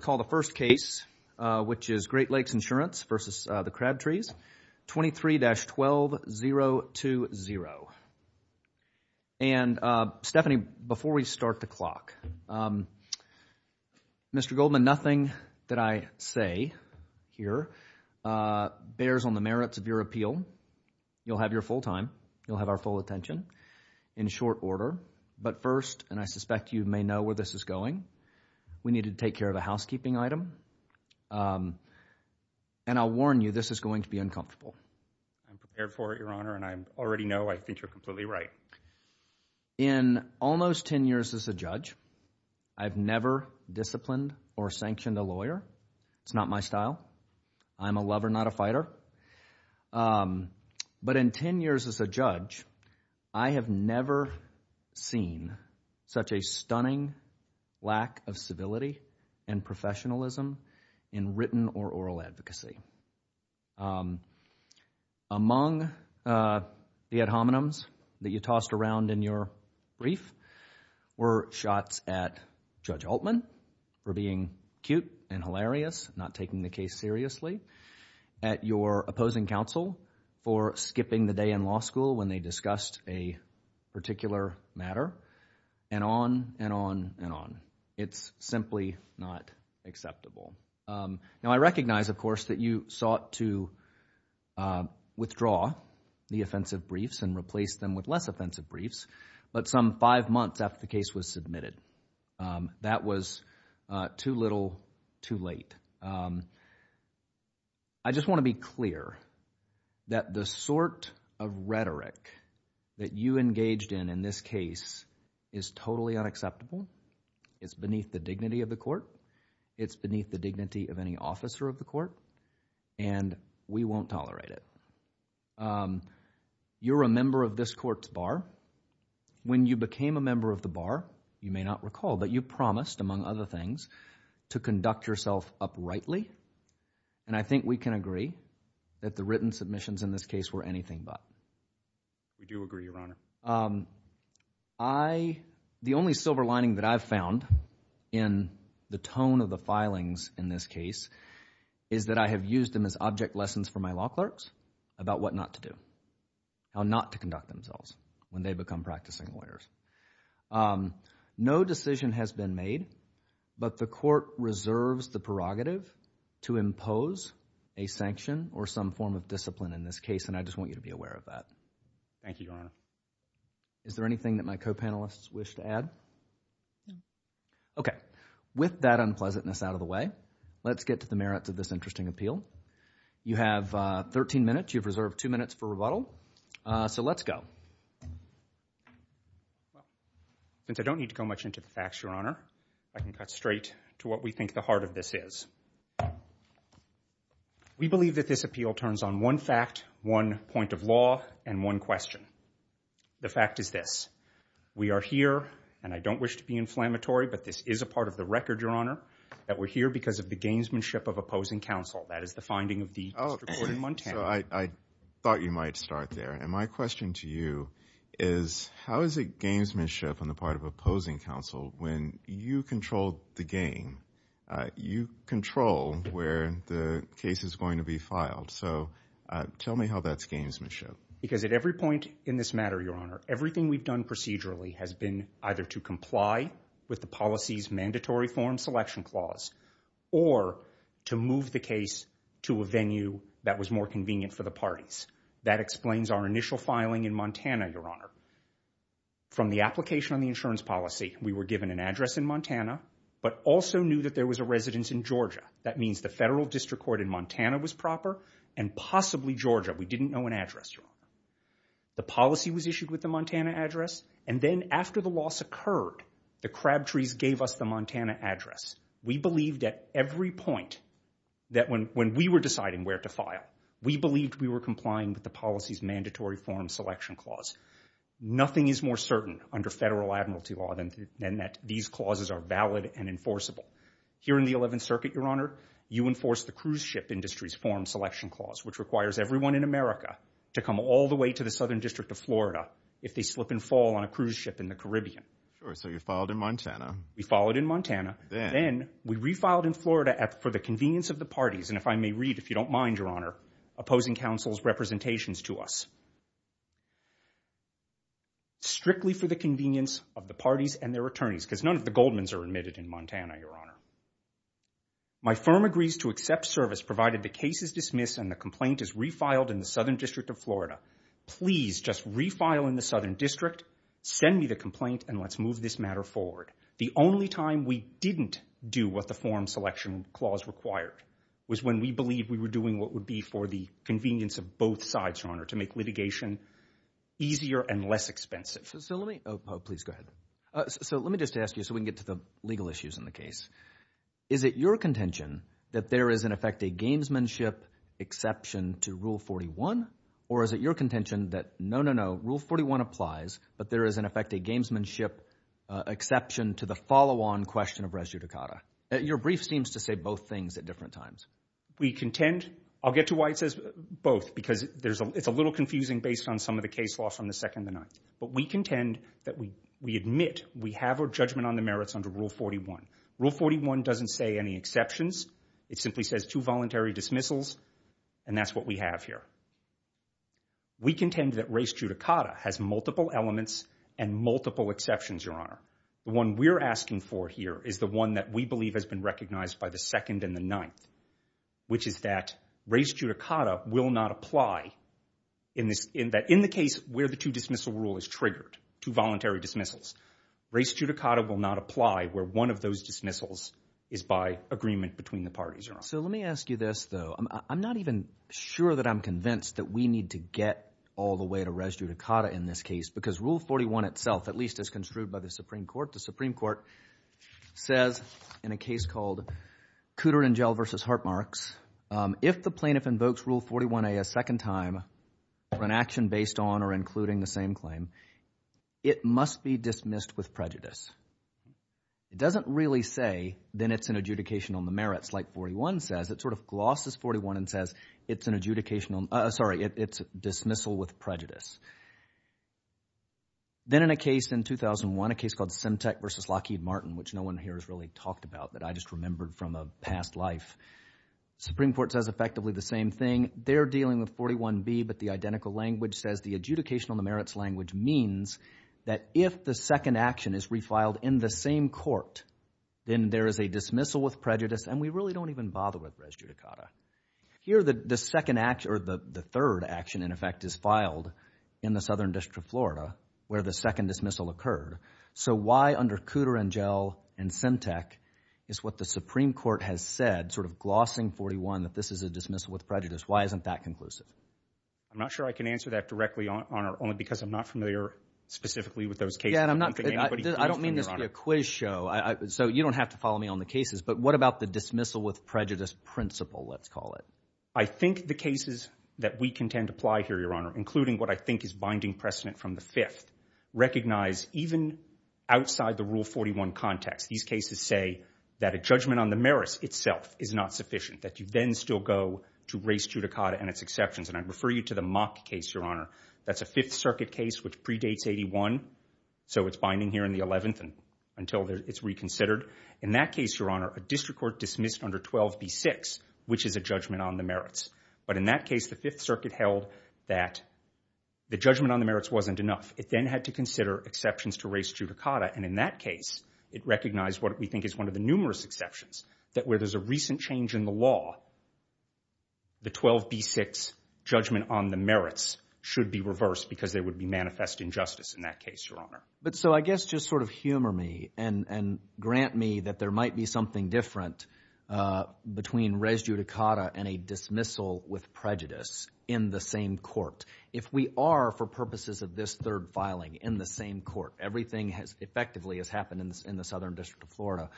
call the first case, which is Great Lakes Insurance v. the Crabtrees, 23-12-020. And Stephanie, before we start the clock, Mr. Goldman, nothing that I say here bears on the merits of your appeal. You'll have your full time. You'll have our full attention in short order. But first, and I suspect you may know where this is going, we need to take care of a house keeping item. And I'll warn you, this is going to be uncomfortable. I'm prepared for it, Your Honor, and I already know I think you're completely right. In almost 10 years as a judge, I've never disciplined or sanctioned a lawyer. It's not my style. I'm a lover, not a fighter. But in 10 years as a judge, I have never seen such a stunning lack of civility and professionalism in written or oral advocacy. Among the ad hominems that you tossed around in your brief were shots at Judge Altman for being cute and hilarious, not taking the case seriously, at your opposing counsel for skipping the day in law school when they discussed a particular matter, and on and on and on. It's simply not acceptable. Now, I recognize, of course, that you sought to withdraw the offensive briefs and replace them with less offensive briefs, but some five months after the case was submitted. That was too little, too late. I just want to be clear that the sort of rhetoric that you engaged in in this case is totally unacceptable. It's beneath the dignity of the court. It's beneath the dignity of any officer of the court, and we won't tolerate it. You're a member of this court's bar. When you became a member of the bar, you may not recall, but you promised, among other things, to conduct yourself uprightly, and I think we can agree that the written submissions in this case were anything but. We do agree, Your Honor. The only silver lining that I've found in the tone of the filings in this case is that I have used them as object lessons for my law clerks about what not to do, how not to conduct themselves when they become practicing lawyers. No decision has been made, but the court reserves the prerogative to impose a sanction or some form of discipline in this case, and I just want you to be aware of that. Thank you, Your Honor. Is there anything that my co-panelists wish to add? No. Okay. With that unpleasantness out of the way, let's get to the merits of this interesting appeal. You have 13 minutes. You have reserved two minutes for rebuttal, so let's go. Since I don't need to go much into the facts, Your Honor, I can cut straight to what we think the heart of this is. We believe that this appeal turns on one fact, one point of law, and one question. The fact is this. We are here, and I don't wish to be inflammatory, but this is a part of the record, Your Honor, that we're here because of the gamesmanship of opposing counsel. That is the finding of the District Court in Montana. I thought you might start there, and my question to you is how is it gamesmanship on the part of opposing counsel when you control the game? You control where the case is going to be filed, so tell me how that's gamesmanship. Because at every point in this matter, Your Honor, everything we've done procedurally has been either to comply with the policy's mandatory form selection clause or to move the case to a venue that was more convenient for the parties. That explains our initial filing in Montana, Your Honor. From the application on the insurance policy, we were given an address in Montana, but also knew that there was a residence in Georgia. That means the federal District Court in Montana was proper, and possibly Georgia. We didn't know an address, Your Honor. The policy was issued with the Montana address, and then after the loss occurred, the Crabtrees gave us the Montana address. We believed at every point that when we were deciding where to file, we believed we were complying with the policy's mandatory form selection clause. Nothing is more certain under federal admiralty law than that these clauses are valid and enforceable. Here in the 11th Circuit, Your Honor, you enforce the cruise ship industry's form selection clause, which requires everyone in America to come all the way to the Southern District of Florida if they slip and fall on a cruise ship in the Caribbean. Sure, so you filed in Montana. We filed in Montana. Then we refiled in Florida for the convenience of the parties, and if I may read, if you don't mind, Your Honor, opposing counsel's representations to us, strictly for the convenience of the parties and their attorneys, because none of the Goldman's are admitted in Montana, Your Honor. My firm agrees to accept service provided the case is dismissed and the complaint is refiled in the Southern District of Florida. Please just refile in the Southern District, send me the complaint, and let's move this matter forward. The only time we didn't do what the form selection clause required was when we believed we were doing what would be for the convenience of both sides, Your Honor, to make litigation easier and less expensive. So let me just ask you, so we can get to the legal issues in the case. Is it your contention that there is, in effect, a gamesmanship exception to Rule 41? Or is it your contention that, no, no, no, Rule 41 applies, but there is, in effect, a gamesmanship exception to the follow-on question of res judicata? Your brief seems to say both things at different times. We contend, I'll get to why it says both, because it's a little confusing based on some of the case law from the 2nd and the 9th, but we contend that we admit we have a judgment on the merits under Rule 41. Rule 41 doesn't say any exceptions. It simply says two voluntary dismissals, and that's what we have here. We contend that res judicata has multiple elements and multiple exceptions, Your Honor. The one we're asking for here is the one that we believe has been recognized by the 2nd and the 9th, which is that res judicata will not apply in the case where the two-dismissal rule is triggered, two voluntary dismissals. Res judicata will not apply where one of those dismissals is by agreement between the parties, Let me ask you this, though. I'm not even sure that I'm convinced that we need to get all the way to res judicata in this case, because Rule 41 itself, at least as construed by the Supreme Court, the Supreme Court says in a case called Cooter and Jell v. Hartmarks, if the plaintiff invokes Rule 41A a second time for an action based on or including the same claim, it must be dismissed with prejudice. It doesn't really say, then it's an adjudication on the merits, like 41 says. It sort of glosses 41 and says it's an adjudication on, sorry, it's a dismissal with prejudice. Then in a case in 2001, a case called Symtek v. Lockheed Martin, which no one here has really talked about that I just remembered from a past life, Supreme Court says effectively the same thing. They're dealing with 41B, but the identical language says the adjudication on the merits language means that if the second action is refiled in the same court, then there is a dismissal with prejudice and we really don't even bother with res judicata. Here the third action, in effect, is filed in the Southern District of Florida where the second dismissal occurred. So why under Cooter and Jell and Symtek is what the Supreme Court has said, sort of glossing 41 that this is a dismissal with prejudice. Why isn't that conclusive? I'm not sure I can answer that directly, Your Honor, only because I'm not familiar specifically with those cases. Yeah, and I'm not, I don't mean this to be a quiz show, so you don't have to follow me on the cases, but what about the dismissal with prejudice principle, let's call it? I think the cases that we contend apply here, Your Honor, including what I think is binding precedent from the Fifth, recognize even outside the Rule 41 context, these cases say that a judgment on the merits itself is not sufficient, that you then still go to res judicata and that's exceptions. And I refer you to the Mock case, Your Honor, that's a Fifth Circuit case which predates 81, so it's binding here in the 11th until it's reconsidered. In that case, Your Honor, a district court dismissed under 12b6, which is a judgment on the merits. But in that case, the Fifth Circuit held that the judgment on the merits wasn't enough. It then had to consider exceptions to res judicata, and in that case, it recognized what we think is one of the numerous exceptions, that where there's a recent change in the law, the 12b6 judgment on the merits should be reversed because there would be manifest injustice in that case, Your Honor. But so I guess just sort of humor me and grant me that there might be something different between res judicata and a dismissal with prejudice in the same court. If we are, for purposes of this third filing, in the same court, everything has effectively has happened in the Southern District of Florida,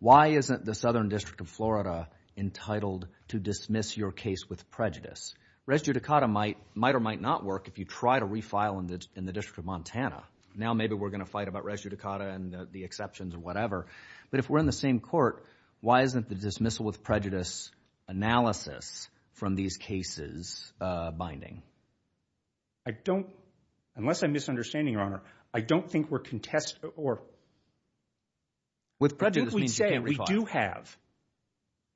why isn't the Southern District of Florida entitled to dismiss your case with prejudice? Res judicata might or might not work if you try to refile in the District of Montana. Now maybe we're going to fight about res judicata and the exceptions or whatever, but if we're in the same court, why isn't the dismissal with prejudice analysis from these cases binding? I don't, unless I'm misunderstanding, Your Honor, I don't think we're contest or… With prejudice means you can't refile. What if we say we do have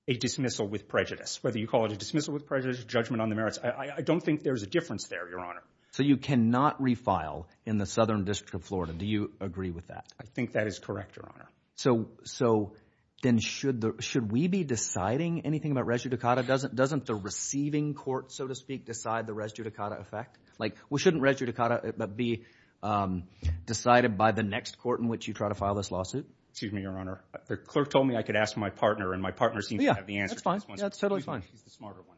a dismissal with prejudice, whether you call it a dismissal with prejudice, judgment on the merits, I don't think there's a difference there, Your Honor. So you cannot refile in the Southern District of Florida, do you agree with that? I think that is correct, Your Honor. So then should we be deciding anything about res judicata? Doesn't the receiving court, so to speak, decide the res judicata effect? Like we shouldn't res judicata but be decided by the next court in which you try to file this lawsuit? Excuse me, Your Honor. The clerk told me I could ask my partner and my partner seems to have the answer to this one. Yeah, that's totally fine. He's the smarter one.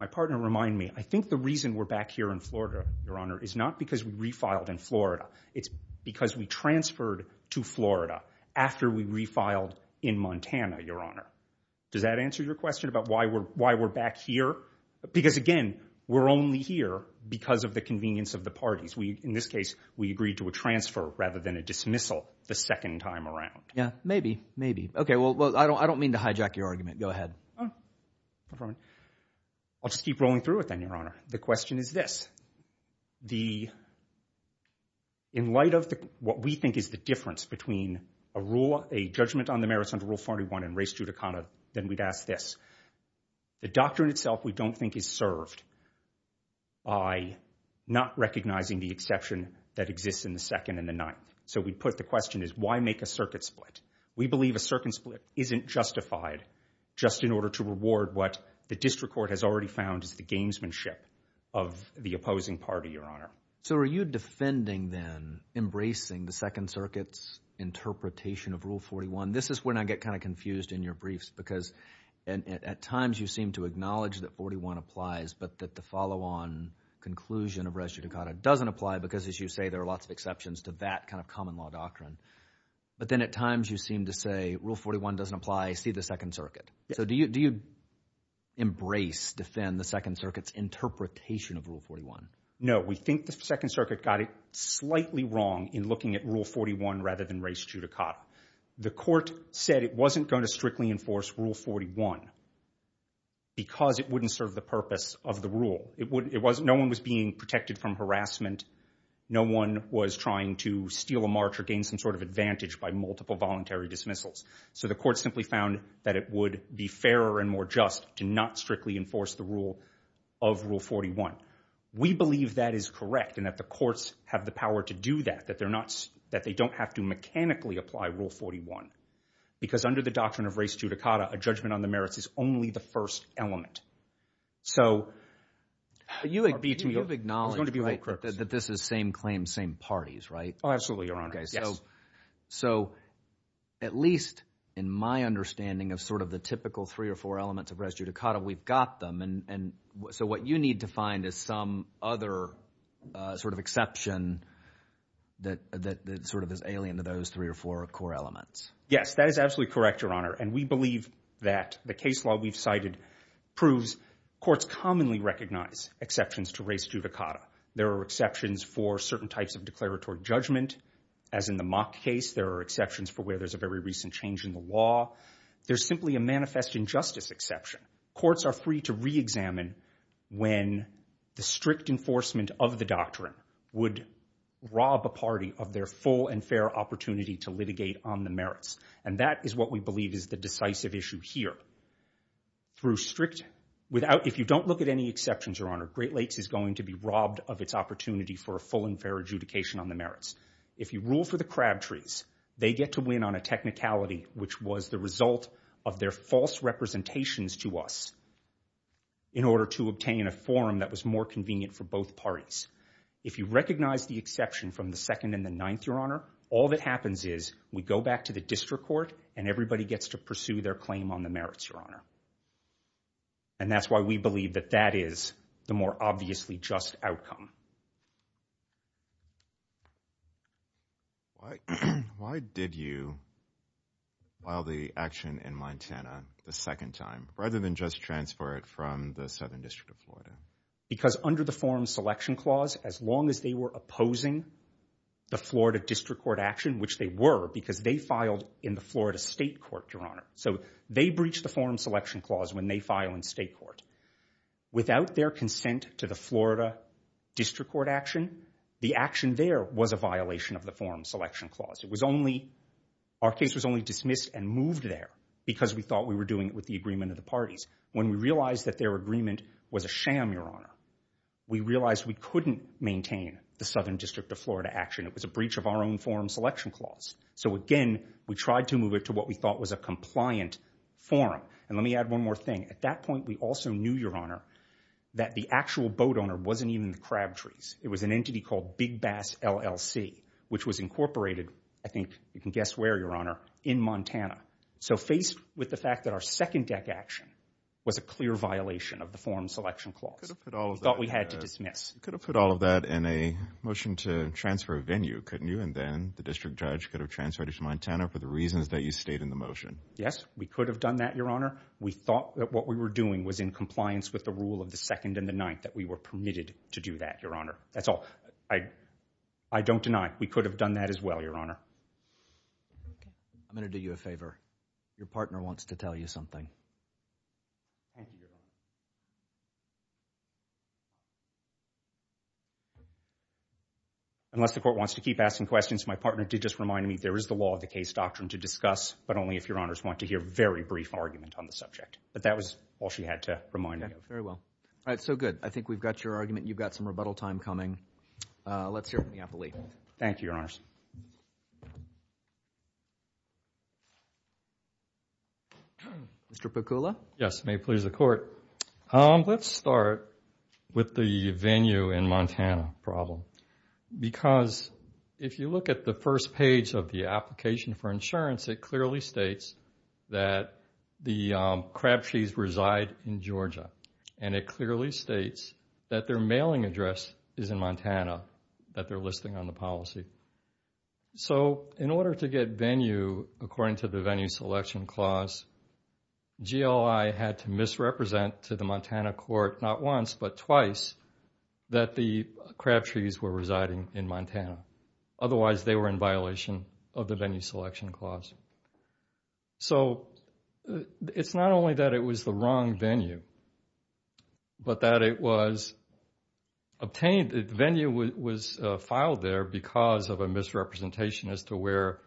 My partner reminded me, I think the reason we're back here in Florida, Your Honor, is not because we refiled in Florida. It's because we transferred to Florida after we refiled in Montana, Your Honor. Does that answer your question about why we're back here? Because again, we're only here because of the convenience of the parties. In this case, we agreed to a transfer rather than a dismissal the second time around. Yeah, maybe, maybe. Okay, well, I don't mean to hijack your argument. Go ahead. Go for it. I'll just keep rolling through it then, Your Honor. The question is this. In light of what we think is the difference between a rule, a judgment on the merits under Rule 41 and res judicata, then we'd ask this. The doctrine itself we don't think is served by not recognizing the exception that exists in the second and the ninth. So we put the question is why make a circuit split? We believe a circuit split isn't justified just in order to reward what the district court has already found is the gamesmanship of the opposing party, Your Honor. So are you defending then embracing the Second Circuit's interpretation of Rule 41? This is when I get kind of confused in your briefs because at times you seem to acknowledge that 41 applies, but that the follow-on conclusion of res judicata doesn't apply because as you say there are lots of exceptions to that kind of common law doctrine. But then at times you seem to say Rule 41 doesn't apply. See the Second Circuit. So do you embrace, defend the Second Circuit's interpretation of Rule 41? No. We think the Second Circuit got it slightly wrong in looking at Rule 41 rather than res judicata. The court said it wasn't going to strictly enforce Rule 41 because it wouldn't serve the purpose of the rule. No one was being protected from harassment. No one was trying to steal a march or gain some sort of advantage by multiple voluntary dismissals. So the court simply found that it would be fairer and more just to not strictly enforce the rule of Rule 41. We believe that is correct and that the courts have the power to do that, that they don't have to mechanically apply Rule 41 because under the doctrine of res judicata, a judgment on the merits is only the first element. So you acknowledge that this is same claim, same parties, right? Absolutely, Your Honor. Okay, so at least in my understanding of sort of the typical three or four elements of res judicata, we've got them. So what you need to find is some other sort of exception that sort of is alien to those three or four core elements. Yes, that is absolutely correct, Your Honor. And we believe that the case law we've cited proves courts commonly recognize exceptions to res judicata. There are exceptions for certain types of declaratory judgment. As in the mock case, there are exceptions for where there's a very recent change in the law. There's simply a manifest injustice exception. Courts are free to re-examine when the strict enforcement of the doctrine would rob a party of their full and fair opportunity to litigate on the merits. And that is what we believe is the decisive issue here. Through strict, without, if you don't look at any exceptions, Your Honor, Great Lakes is going to be robbed of its opportunity for a full and fair adjudication on the merits. If you rule for the Crabtrees, they get to win on a technicality which was the result of their false representations to us in order to obtain a forum that was more convenient for both parties. If you recognize the exception from the second and the ninth, Your Honor, all that happens is we go back to the district court and everybody gets to pursue their claim on the merits, and that's why we believe that that is the more obviously just outcome. Why did you file the action in Montana the second time rather than just transfer it from the Southern District of Florida? Because under the Forum Selection Clause, as long as they were opposing the Florida District Court action, which they were because they filed in the Florida State Court, Your Honor, the Forum Selection Clause when they file in state court, without their consent to the Florida District Court action, the action there was a violation of the Forum Selection Clause. Our case was only dismissed and moved there because we thought we were doing it with the agreement of the parties. When we realized that their agreement was a sham, Your Honor, we realized we couldn't maintain the Southern District of Florida action. It was a breach of our own Forum Selection Clause. So again, we tried to move it to what we thought was a compliant forum. And let me add one more thing. At that point, we also knew, Your Honor, that the actual boat owner wasn't even the Crabtrees. It was an entity called Big Bass LLC, which was incorporated, I think you can guess where, Your Honor, in Montana. So faced with the fact that our second deck action was a clear violation of the Forum Selection Clause, we thought we had to dismiss. You could have put all of that in a motion to transfer a venue, couldn't you? And then the district judge could have transferred it to Montana for the reasons that you stated in the motion. Yes, we could have done that, Your Honor. We thought that what we were doing was in compliance with the rule of the second and the ninth, that we were permitted to do that, Your Honor. That's all. I don't deny. We could have done that as well, Your Honor. I'm going to do you a favor. Your partner wants to tell you something. Thank you, Your Honor. Unless the court wants to keep asking questions, my partner did just remind me there is the law of the case doctrine to discuss, but only if Your Honors want to hear a very brief argument on the subject. But that was all she had to remind me of. Very well. All right. So good. I think we've got your argument. You've got some rebuttal time coming. Let's hear from the appellee. Thank you, Your Honors. Mr. Piccola? Yes. May it please the Court. Let's start with the venue in Montana problem because if you look at the first page of the application for insurance, it clearly states that the Crabtrees reside in Georgia. And it clearly states that their mailing address is in Montana, that they're listing on the policy. So, in order to get venue, according to the venue selection clause, GLI had to misrepresent to the Montana court, not once, but twice, that the Crabtrees were residing in Montana. Otherwise, they were in violation of the venue selection clause. So, it's not only that it was the wrong venue, but that it was obtained, the venue was filed there because of a misrepresentation as to where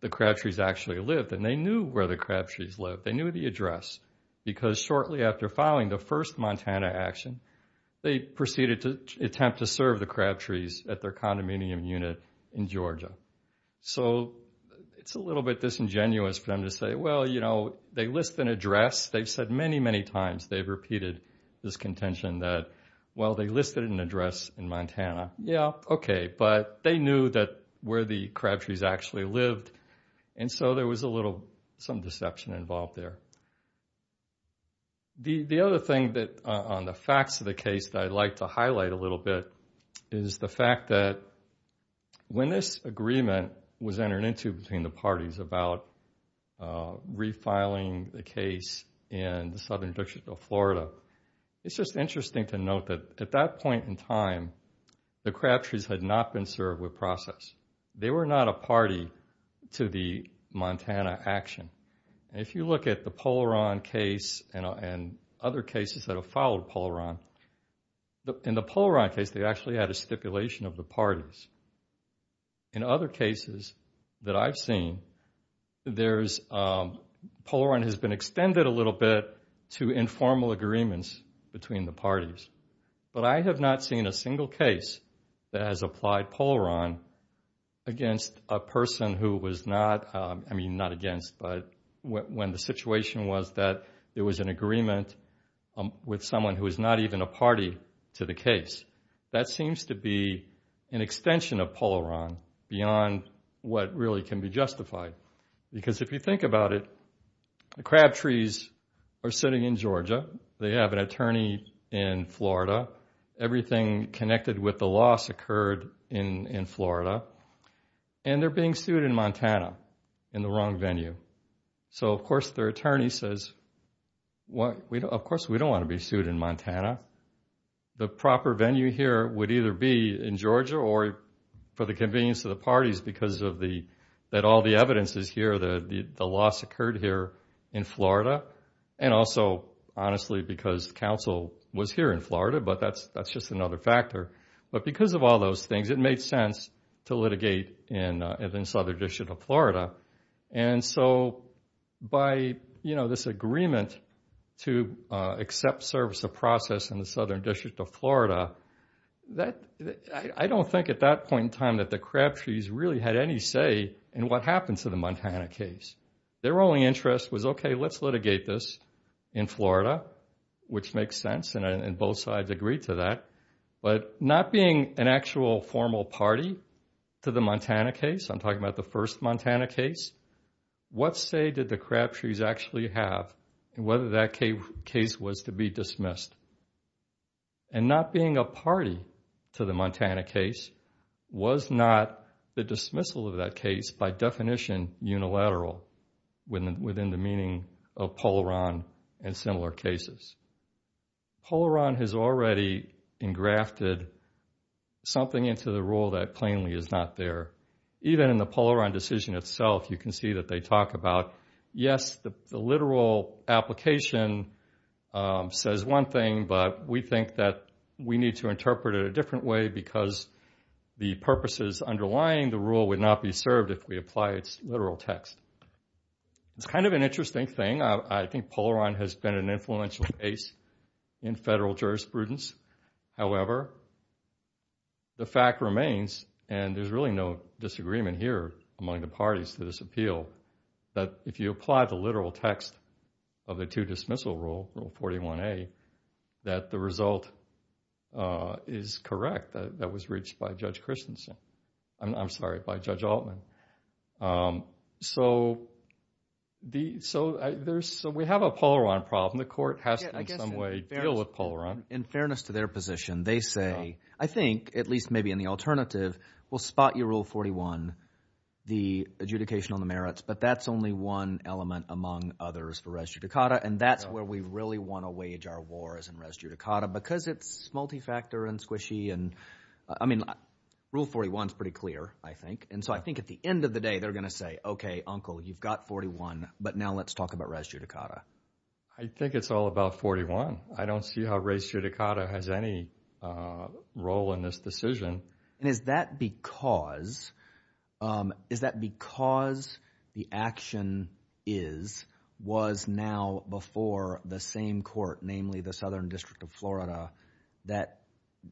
the Crabtrees actually lived. And they knew where the Crabtrees lived. They knew the address because shortly after filing the first Montana action, they proceeded to attempt to serve the Crabtrees at their condominium unit in Georgia. So, it's a little bit disingenuous for them to say, well, you know, they list an address. They've said many, many times. They've repeated this contention that, well, they listed an address in Montana. Yeah, okay. But they knew that where the Crabtrees actually lived. And so, there was a little, some deception involved there. The other thing on the facts of the case that I'd like to highlight a little bit is the fact that when this agreement was entered into between the parties about refiling the case in the Southern District of Florida, it's just interesting to note that at that point in time, the Crabtrees had not been served with process. They were not a party to the Montana action. If you look at the Polaron case and other cases that have followed Polaron, in the Polaron case, they actually had a stipulation of the parties. In other cases that I've seen, there's, Polaron has been extended a little bit to informal agreements between the parties. But I have not seen a single case that has applied Polaron against a person who was not, I mean, not against, but when the situation was that there was an agreement with someone who was not even a party to the case. That seems to be an extension of Polaron beyond what really can be justified. Because if you think about it, the Crabtrees are sitting in Georgia. They have an attorney in Florida. Everything connected with the loss occurred in Florida. And they're being sued in Montana in the wrong venue. So, of course, their attorney says, of course, we don't want to be sued in Montana. The proper venue here would either be in Georgia or for the convenience of the parties because of the, that all the evidence is here, the loss occurred here in Florida. And also, honestly, because counsel was here in Florida, but that's just another factor. But because of all those things, it made sense to litigate in the Southern District of Florida. And so by, you know, this agreement to accept service of process in the Southern District of Florida, I don't think at that point in time that the Crabtrees really had any say in what happened to the Montana case. Their only interest was, okay, let's litigate this in Florida, which makes sense, and both sides agreed to that, but not being an actual formal party to the Montana case, I'm talking about the first Montana case, what say did the Crabtrees actually have and whether that case was to be dismissed? And not being a party to the Montana case was not the dismissal of that case by definition unilateral within the meaning of Polaron and similar cases. Polaron has already engrafted something into the rule that plainly is not there. Even in the Polaron decision itself, you can see that they talk about, yes, the literal application says one thing, but we think that we need to interpret it a different way because the purposes underlying the rule would not be served if we apply its literal text. It's kind of an interesting thing. I think Polaron has been an influential case in federal jurisprudence. However, the fact remains, and there's really no disagreement here among the parties to this appeal, that if you apply the literal text of the two-dismissal rule, rule 41A, that the result is correct, that was reached by Judge Christensen. I'm sorry, by Judge Altman. So we have a Polaron problem. The court has to in some way deal with Polaron. In fairness to their position, they say, I think, at least maybe in the alternative, we'll spot your rule 41, the adjudication on the merits, but that's only one element among others for res judicata, and that's where we really want to wage our war is in res judicata because it's multi-factor and squishy. I mean, rule 41 is pretty clear, I think, and so I think at the end of the day, they're going to say, okay, uncle, you've got 41, but now let's talk about res judicata. I think it's all about 41. I don't see how res judicata has any role in this decision. And is that because the action is, was now before the same court, namely the Southern District of Florida,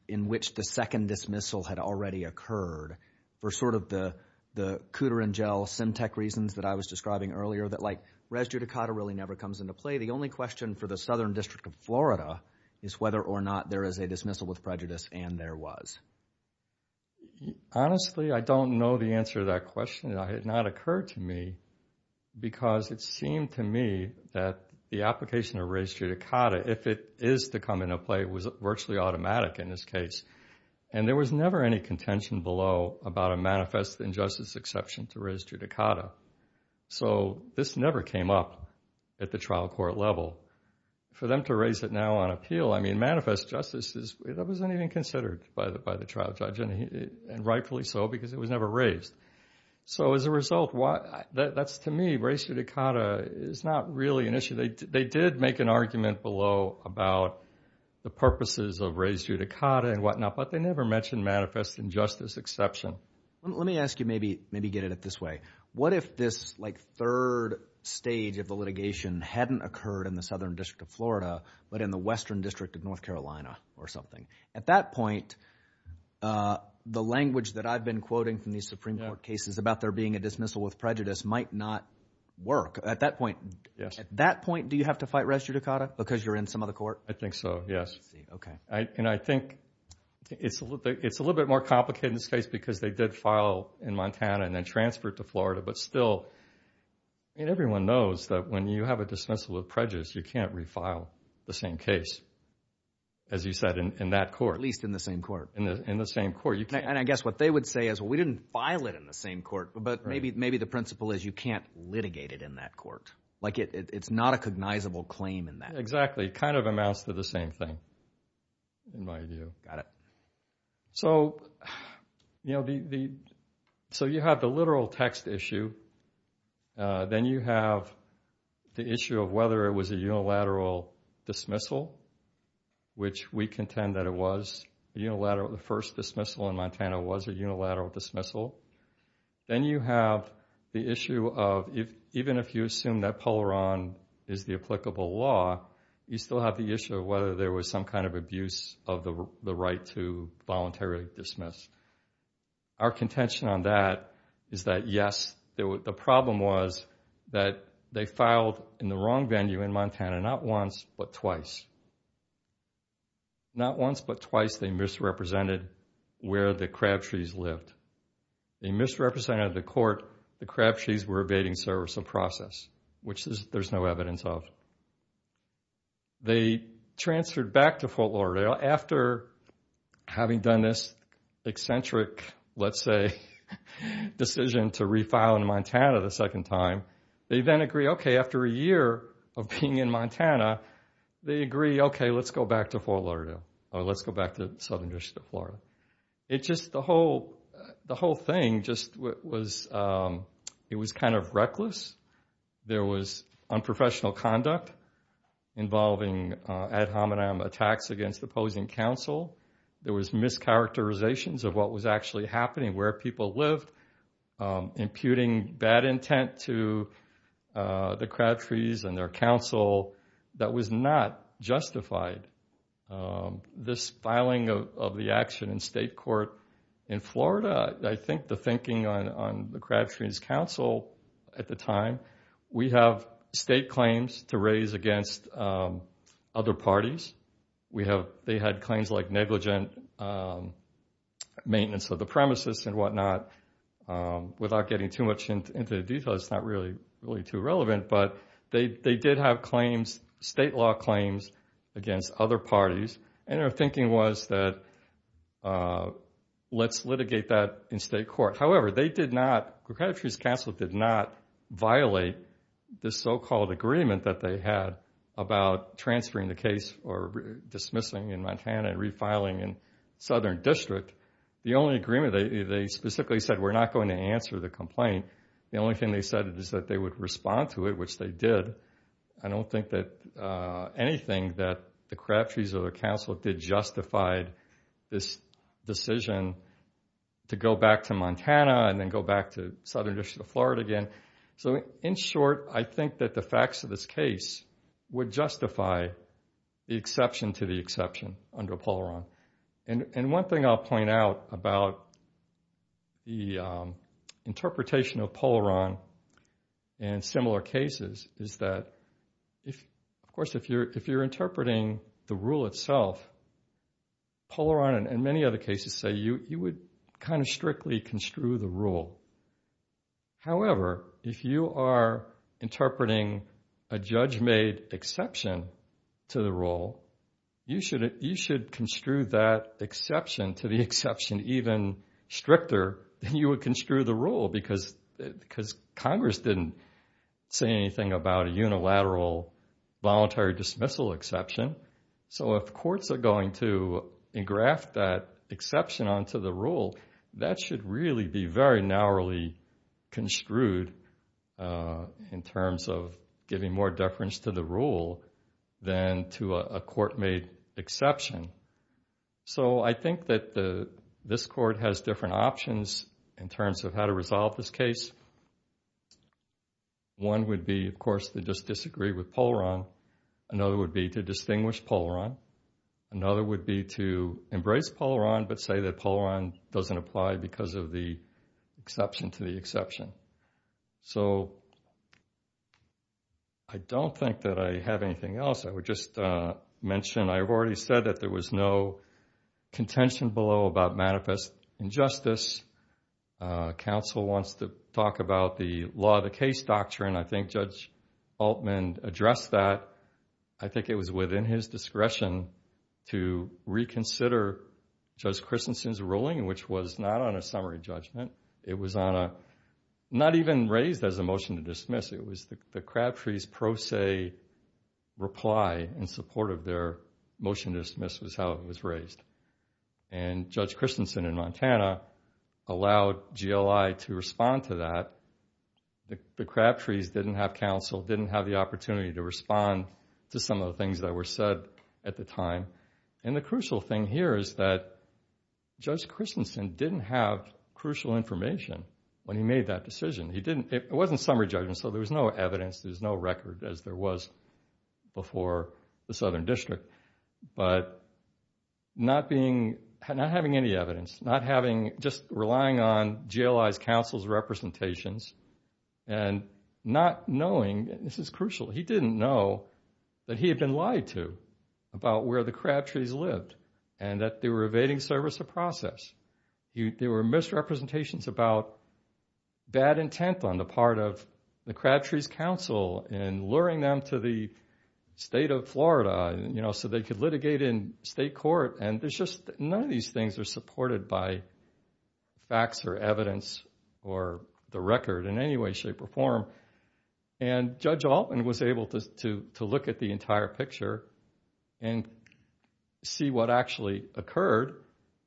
in which the second dismissal had already occurred for sort of the cooter and gel, sim tech reasons that I was describing earlier, that like res judicata really never comes into play? The only question for the Southern District of Florida is whether or not there is a dismissal with prejudice, and there was. Honestly, I don't know the answer to that question. It had not occurred to me because it seemed to me that the application of res judicata, if it is to come into play, was virtually automatic in this case. And there was never any contention below about a manifest injustice exception to res judicata. So this never came up at the trial court level. For them to raise it now on appeal, I mean, manifest justice, that wasn't even considered by the trial judge, and rightfully so, because it was never raised. So as a result, that's to me, res judicata is not really an issue. They did make an argument below about the purposes of res judicata and whatnot, but they never mentioned manifest injustice exception. Let me ask you, maybe, maybe get at it this way. What if this like third stage of the litigation hadn't occurred in the Southern District of Florida, but in the Western District of North Carolina or something? At that point, the language that I've been quoting from these Supreme Court cases about there being a dismissal with prejudice might not work. At that point, do you have to fight res judicata because you're in some other court? I think so, yes. Okay. And I think it's a little bit more complicated in this case because they did file in Montana and then transfer it to Florida. But still, I mean, everyone knows that when you have a dismissal with prejudice, you can't refile the same case, as you said, in that court. At least in the same court. In the same court. And I guess what they would say is, well, we didn't file it in the same court, but maybe the principle is you can't litigate it in that court. Like, it's not a cognizable claim in that. Exactly. Kind of amounts to the same thing, in my view. So, you know, so you have the literal text issue. Then you have the issue of whether it was a unilateral dismissal, which we contend that it was unilateral. The first dismissal in Montana was a unilateral dismissal. Then you have the issue of, even if you assume that Polaron is the applicable law, you still have the issue of whether there was some kind of abuse of the right to voluntarily dismiss. Our contention on that is that, yes, the problem was that they filed in the wrong venue in Montana, not once, but twice. Not once, but twice they misrepresented where the Crabtrees lived. They misrepresented the court the Crabtrees were evading service of process, which there's no evidence of. They transferred back to Fort Lauderdale after having done this eccentric, let's say, decision to refile in Montana the second time. They then agree, okay, after a year of being in Montana, they agree, okay, let's go back to Fort Lauderdale, or let's go back to Southern District of Florida. It just, the whole thing just was, it was kind of reckless. There was unprofessional conduct involving ad hominem attacks against opposing counsel. There was mischaracterizations of what was actually happening, where people lived, imputing bad intent to the Crabtrees and their counsel. That was not justified. This filing of the action in state court in Florida, I think the thinking on the Crabtrees counsel at the time, we have state claims to raise against other parties. They had claims like negligent maintenance of the premises and whatnot, without getting too much into detail, it's not really too relevant, but they did have claims, state law claims against other parties. Their thinking was that let's litigate that in state court. However, they did not, Crabtrees counsel did not violate the so-called agreement that they had about transferring the case or dismissing in Montana and refiling in Southern District. The only agreement they specifically said, we're not going to answer the complaint. The only thing they said is that they would respond to it, which they did. I don't think that anything that the Crabtrees or the counsel did justified this decision to go back to Montana and then go back to Southern District of Florida again. So in short, I think that the facts of this case would justify the exception to the exception under Polaron. And one thing I'll point out about the interpretation of Polaron in similar cases is that, of course, if you're interpreting the rule itself, Polaron and many other cases say you would kind of strictly construe the rule. However, if you are interpreting a judge-made exception to the rule, you should construe that exception to the exception even stricter than you would construe the rule because Congress didn't say anything about a unilateral voluntary dismissal exception. So if courts are going to engraft that exception onto the rule, that should really be very narrowly construed in terms of giving more deference to the rule than to a court-made exception. So I think that this court has different options in terms of how to resolve this case. One would be, of course, to just disagree with Polaron. Another would be to distinguish Polaron. Another would be to embrace Polaron but say that Polaron doesn't apply because of the exception to the exception. So I don't think that I have anything else. I would just mention I have already said that there was no contention below about manifest injustice. Council wants to talk about the law of the case doctrine. I think Judge Altman addressed that. I think it was within his discretion to reconsider Judge Christensen's ruling, which was not on a summary judgment. It was on a, not even raised as a motion to dismiss. It was the Crabtree's pro se reply in support of their motion to dismiss was how it was raised. And Judge Christensen in Montana allowed GLI to respond to that. The Crabtrees didn't have counsel, didn't have the opportunity to respond to some of the things that were said at the time. And the crucial thing here is that Judge Christensen didn't have crucial information when he made that decision. It wasn't summary judgment so there was no evidence, there was no record as there was before the Southern District. But not being, not having any evidence, not having, just relying on GLI's counsel's representations and not knowing, this is crucial, he didn't know that he had been lied to about where the Crabtrees lived and that they were evading service of process. There were misrepresentations about bad intent on the part of the Crabtrees' counsel and luring them to the state of Florida, you know, so they could litigate in state court. And there's just, none of these things are supported by facts or evidence or the record in any way, shape, or form. And Judge Altman was able to look at the entire picture and see what actually occurred.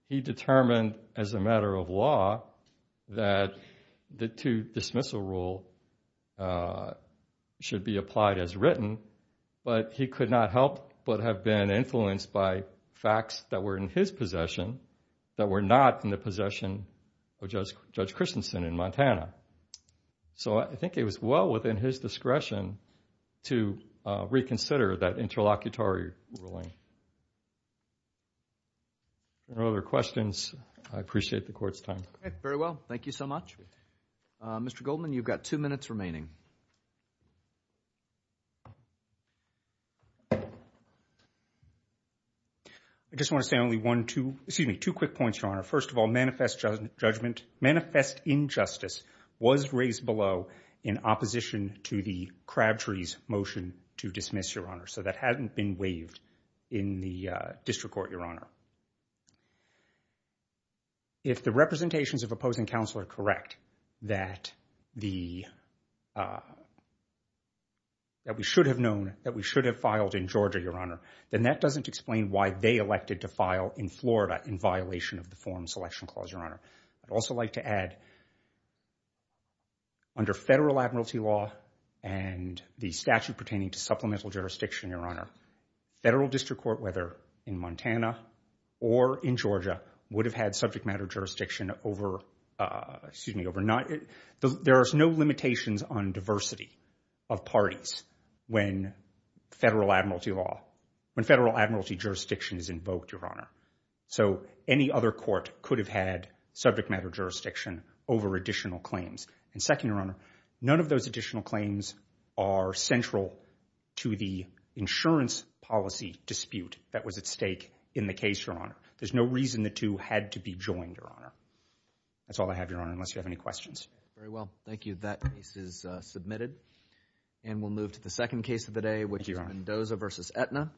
He determined as a matter of law that the two dismissal rule should be applied as written, but he could not help but have been influenced by facts that were in his possession that were not in the possession of Judge Christensen in Montana. So I think it was well within his discretion to reconsider that interlocutory ruling. No other questions. I appreciate the court's time. Okay, very well. Thank you so much. Mr. Goldman, you've got two minutes remaining. I just want to say only one, two, excuse me, two quick points, Your Honor. First of all, manifest judgment, manifest injustice was raised below in opposition to the Crabtrees' motion to dismiss, Your Honor. So that hadn't been waived in the district court, Your Honor. If the representations of opposing counsel are correct that the, that we should have known, that we should have filed in Georgia, Your Honor, then that doesn't explain why they elected to file in Florida in violation of the Form Selection Clause, Your Honor. I'd also like to add under federal admiralty law and the statute pertaining to supplemental jurisdiction, Your Honor, federal district court, whether in Montana or in Georgia, would have had subject matter jurisdiction over, excuse me, over not, there are no limitations on diversity of parties when federal admiralty law, when federal admiralty jurisdiction is invoked, Your Honor. So any other court could have had subject matter jurisdiction over additional claims. And second, Your Honor, none of those additional claims are central to the insurance policy dispute that was at stake in the case, Your Honor. There's no reason the two had to be joined, Your Honor. That's all I have, Your Honor, unless you have any questions. Very well. Thank you. That case is submitted. And we'll move to the second case of the day, which is Mendoza v. Aetna.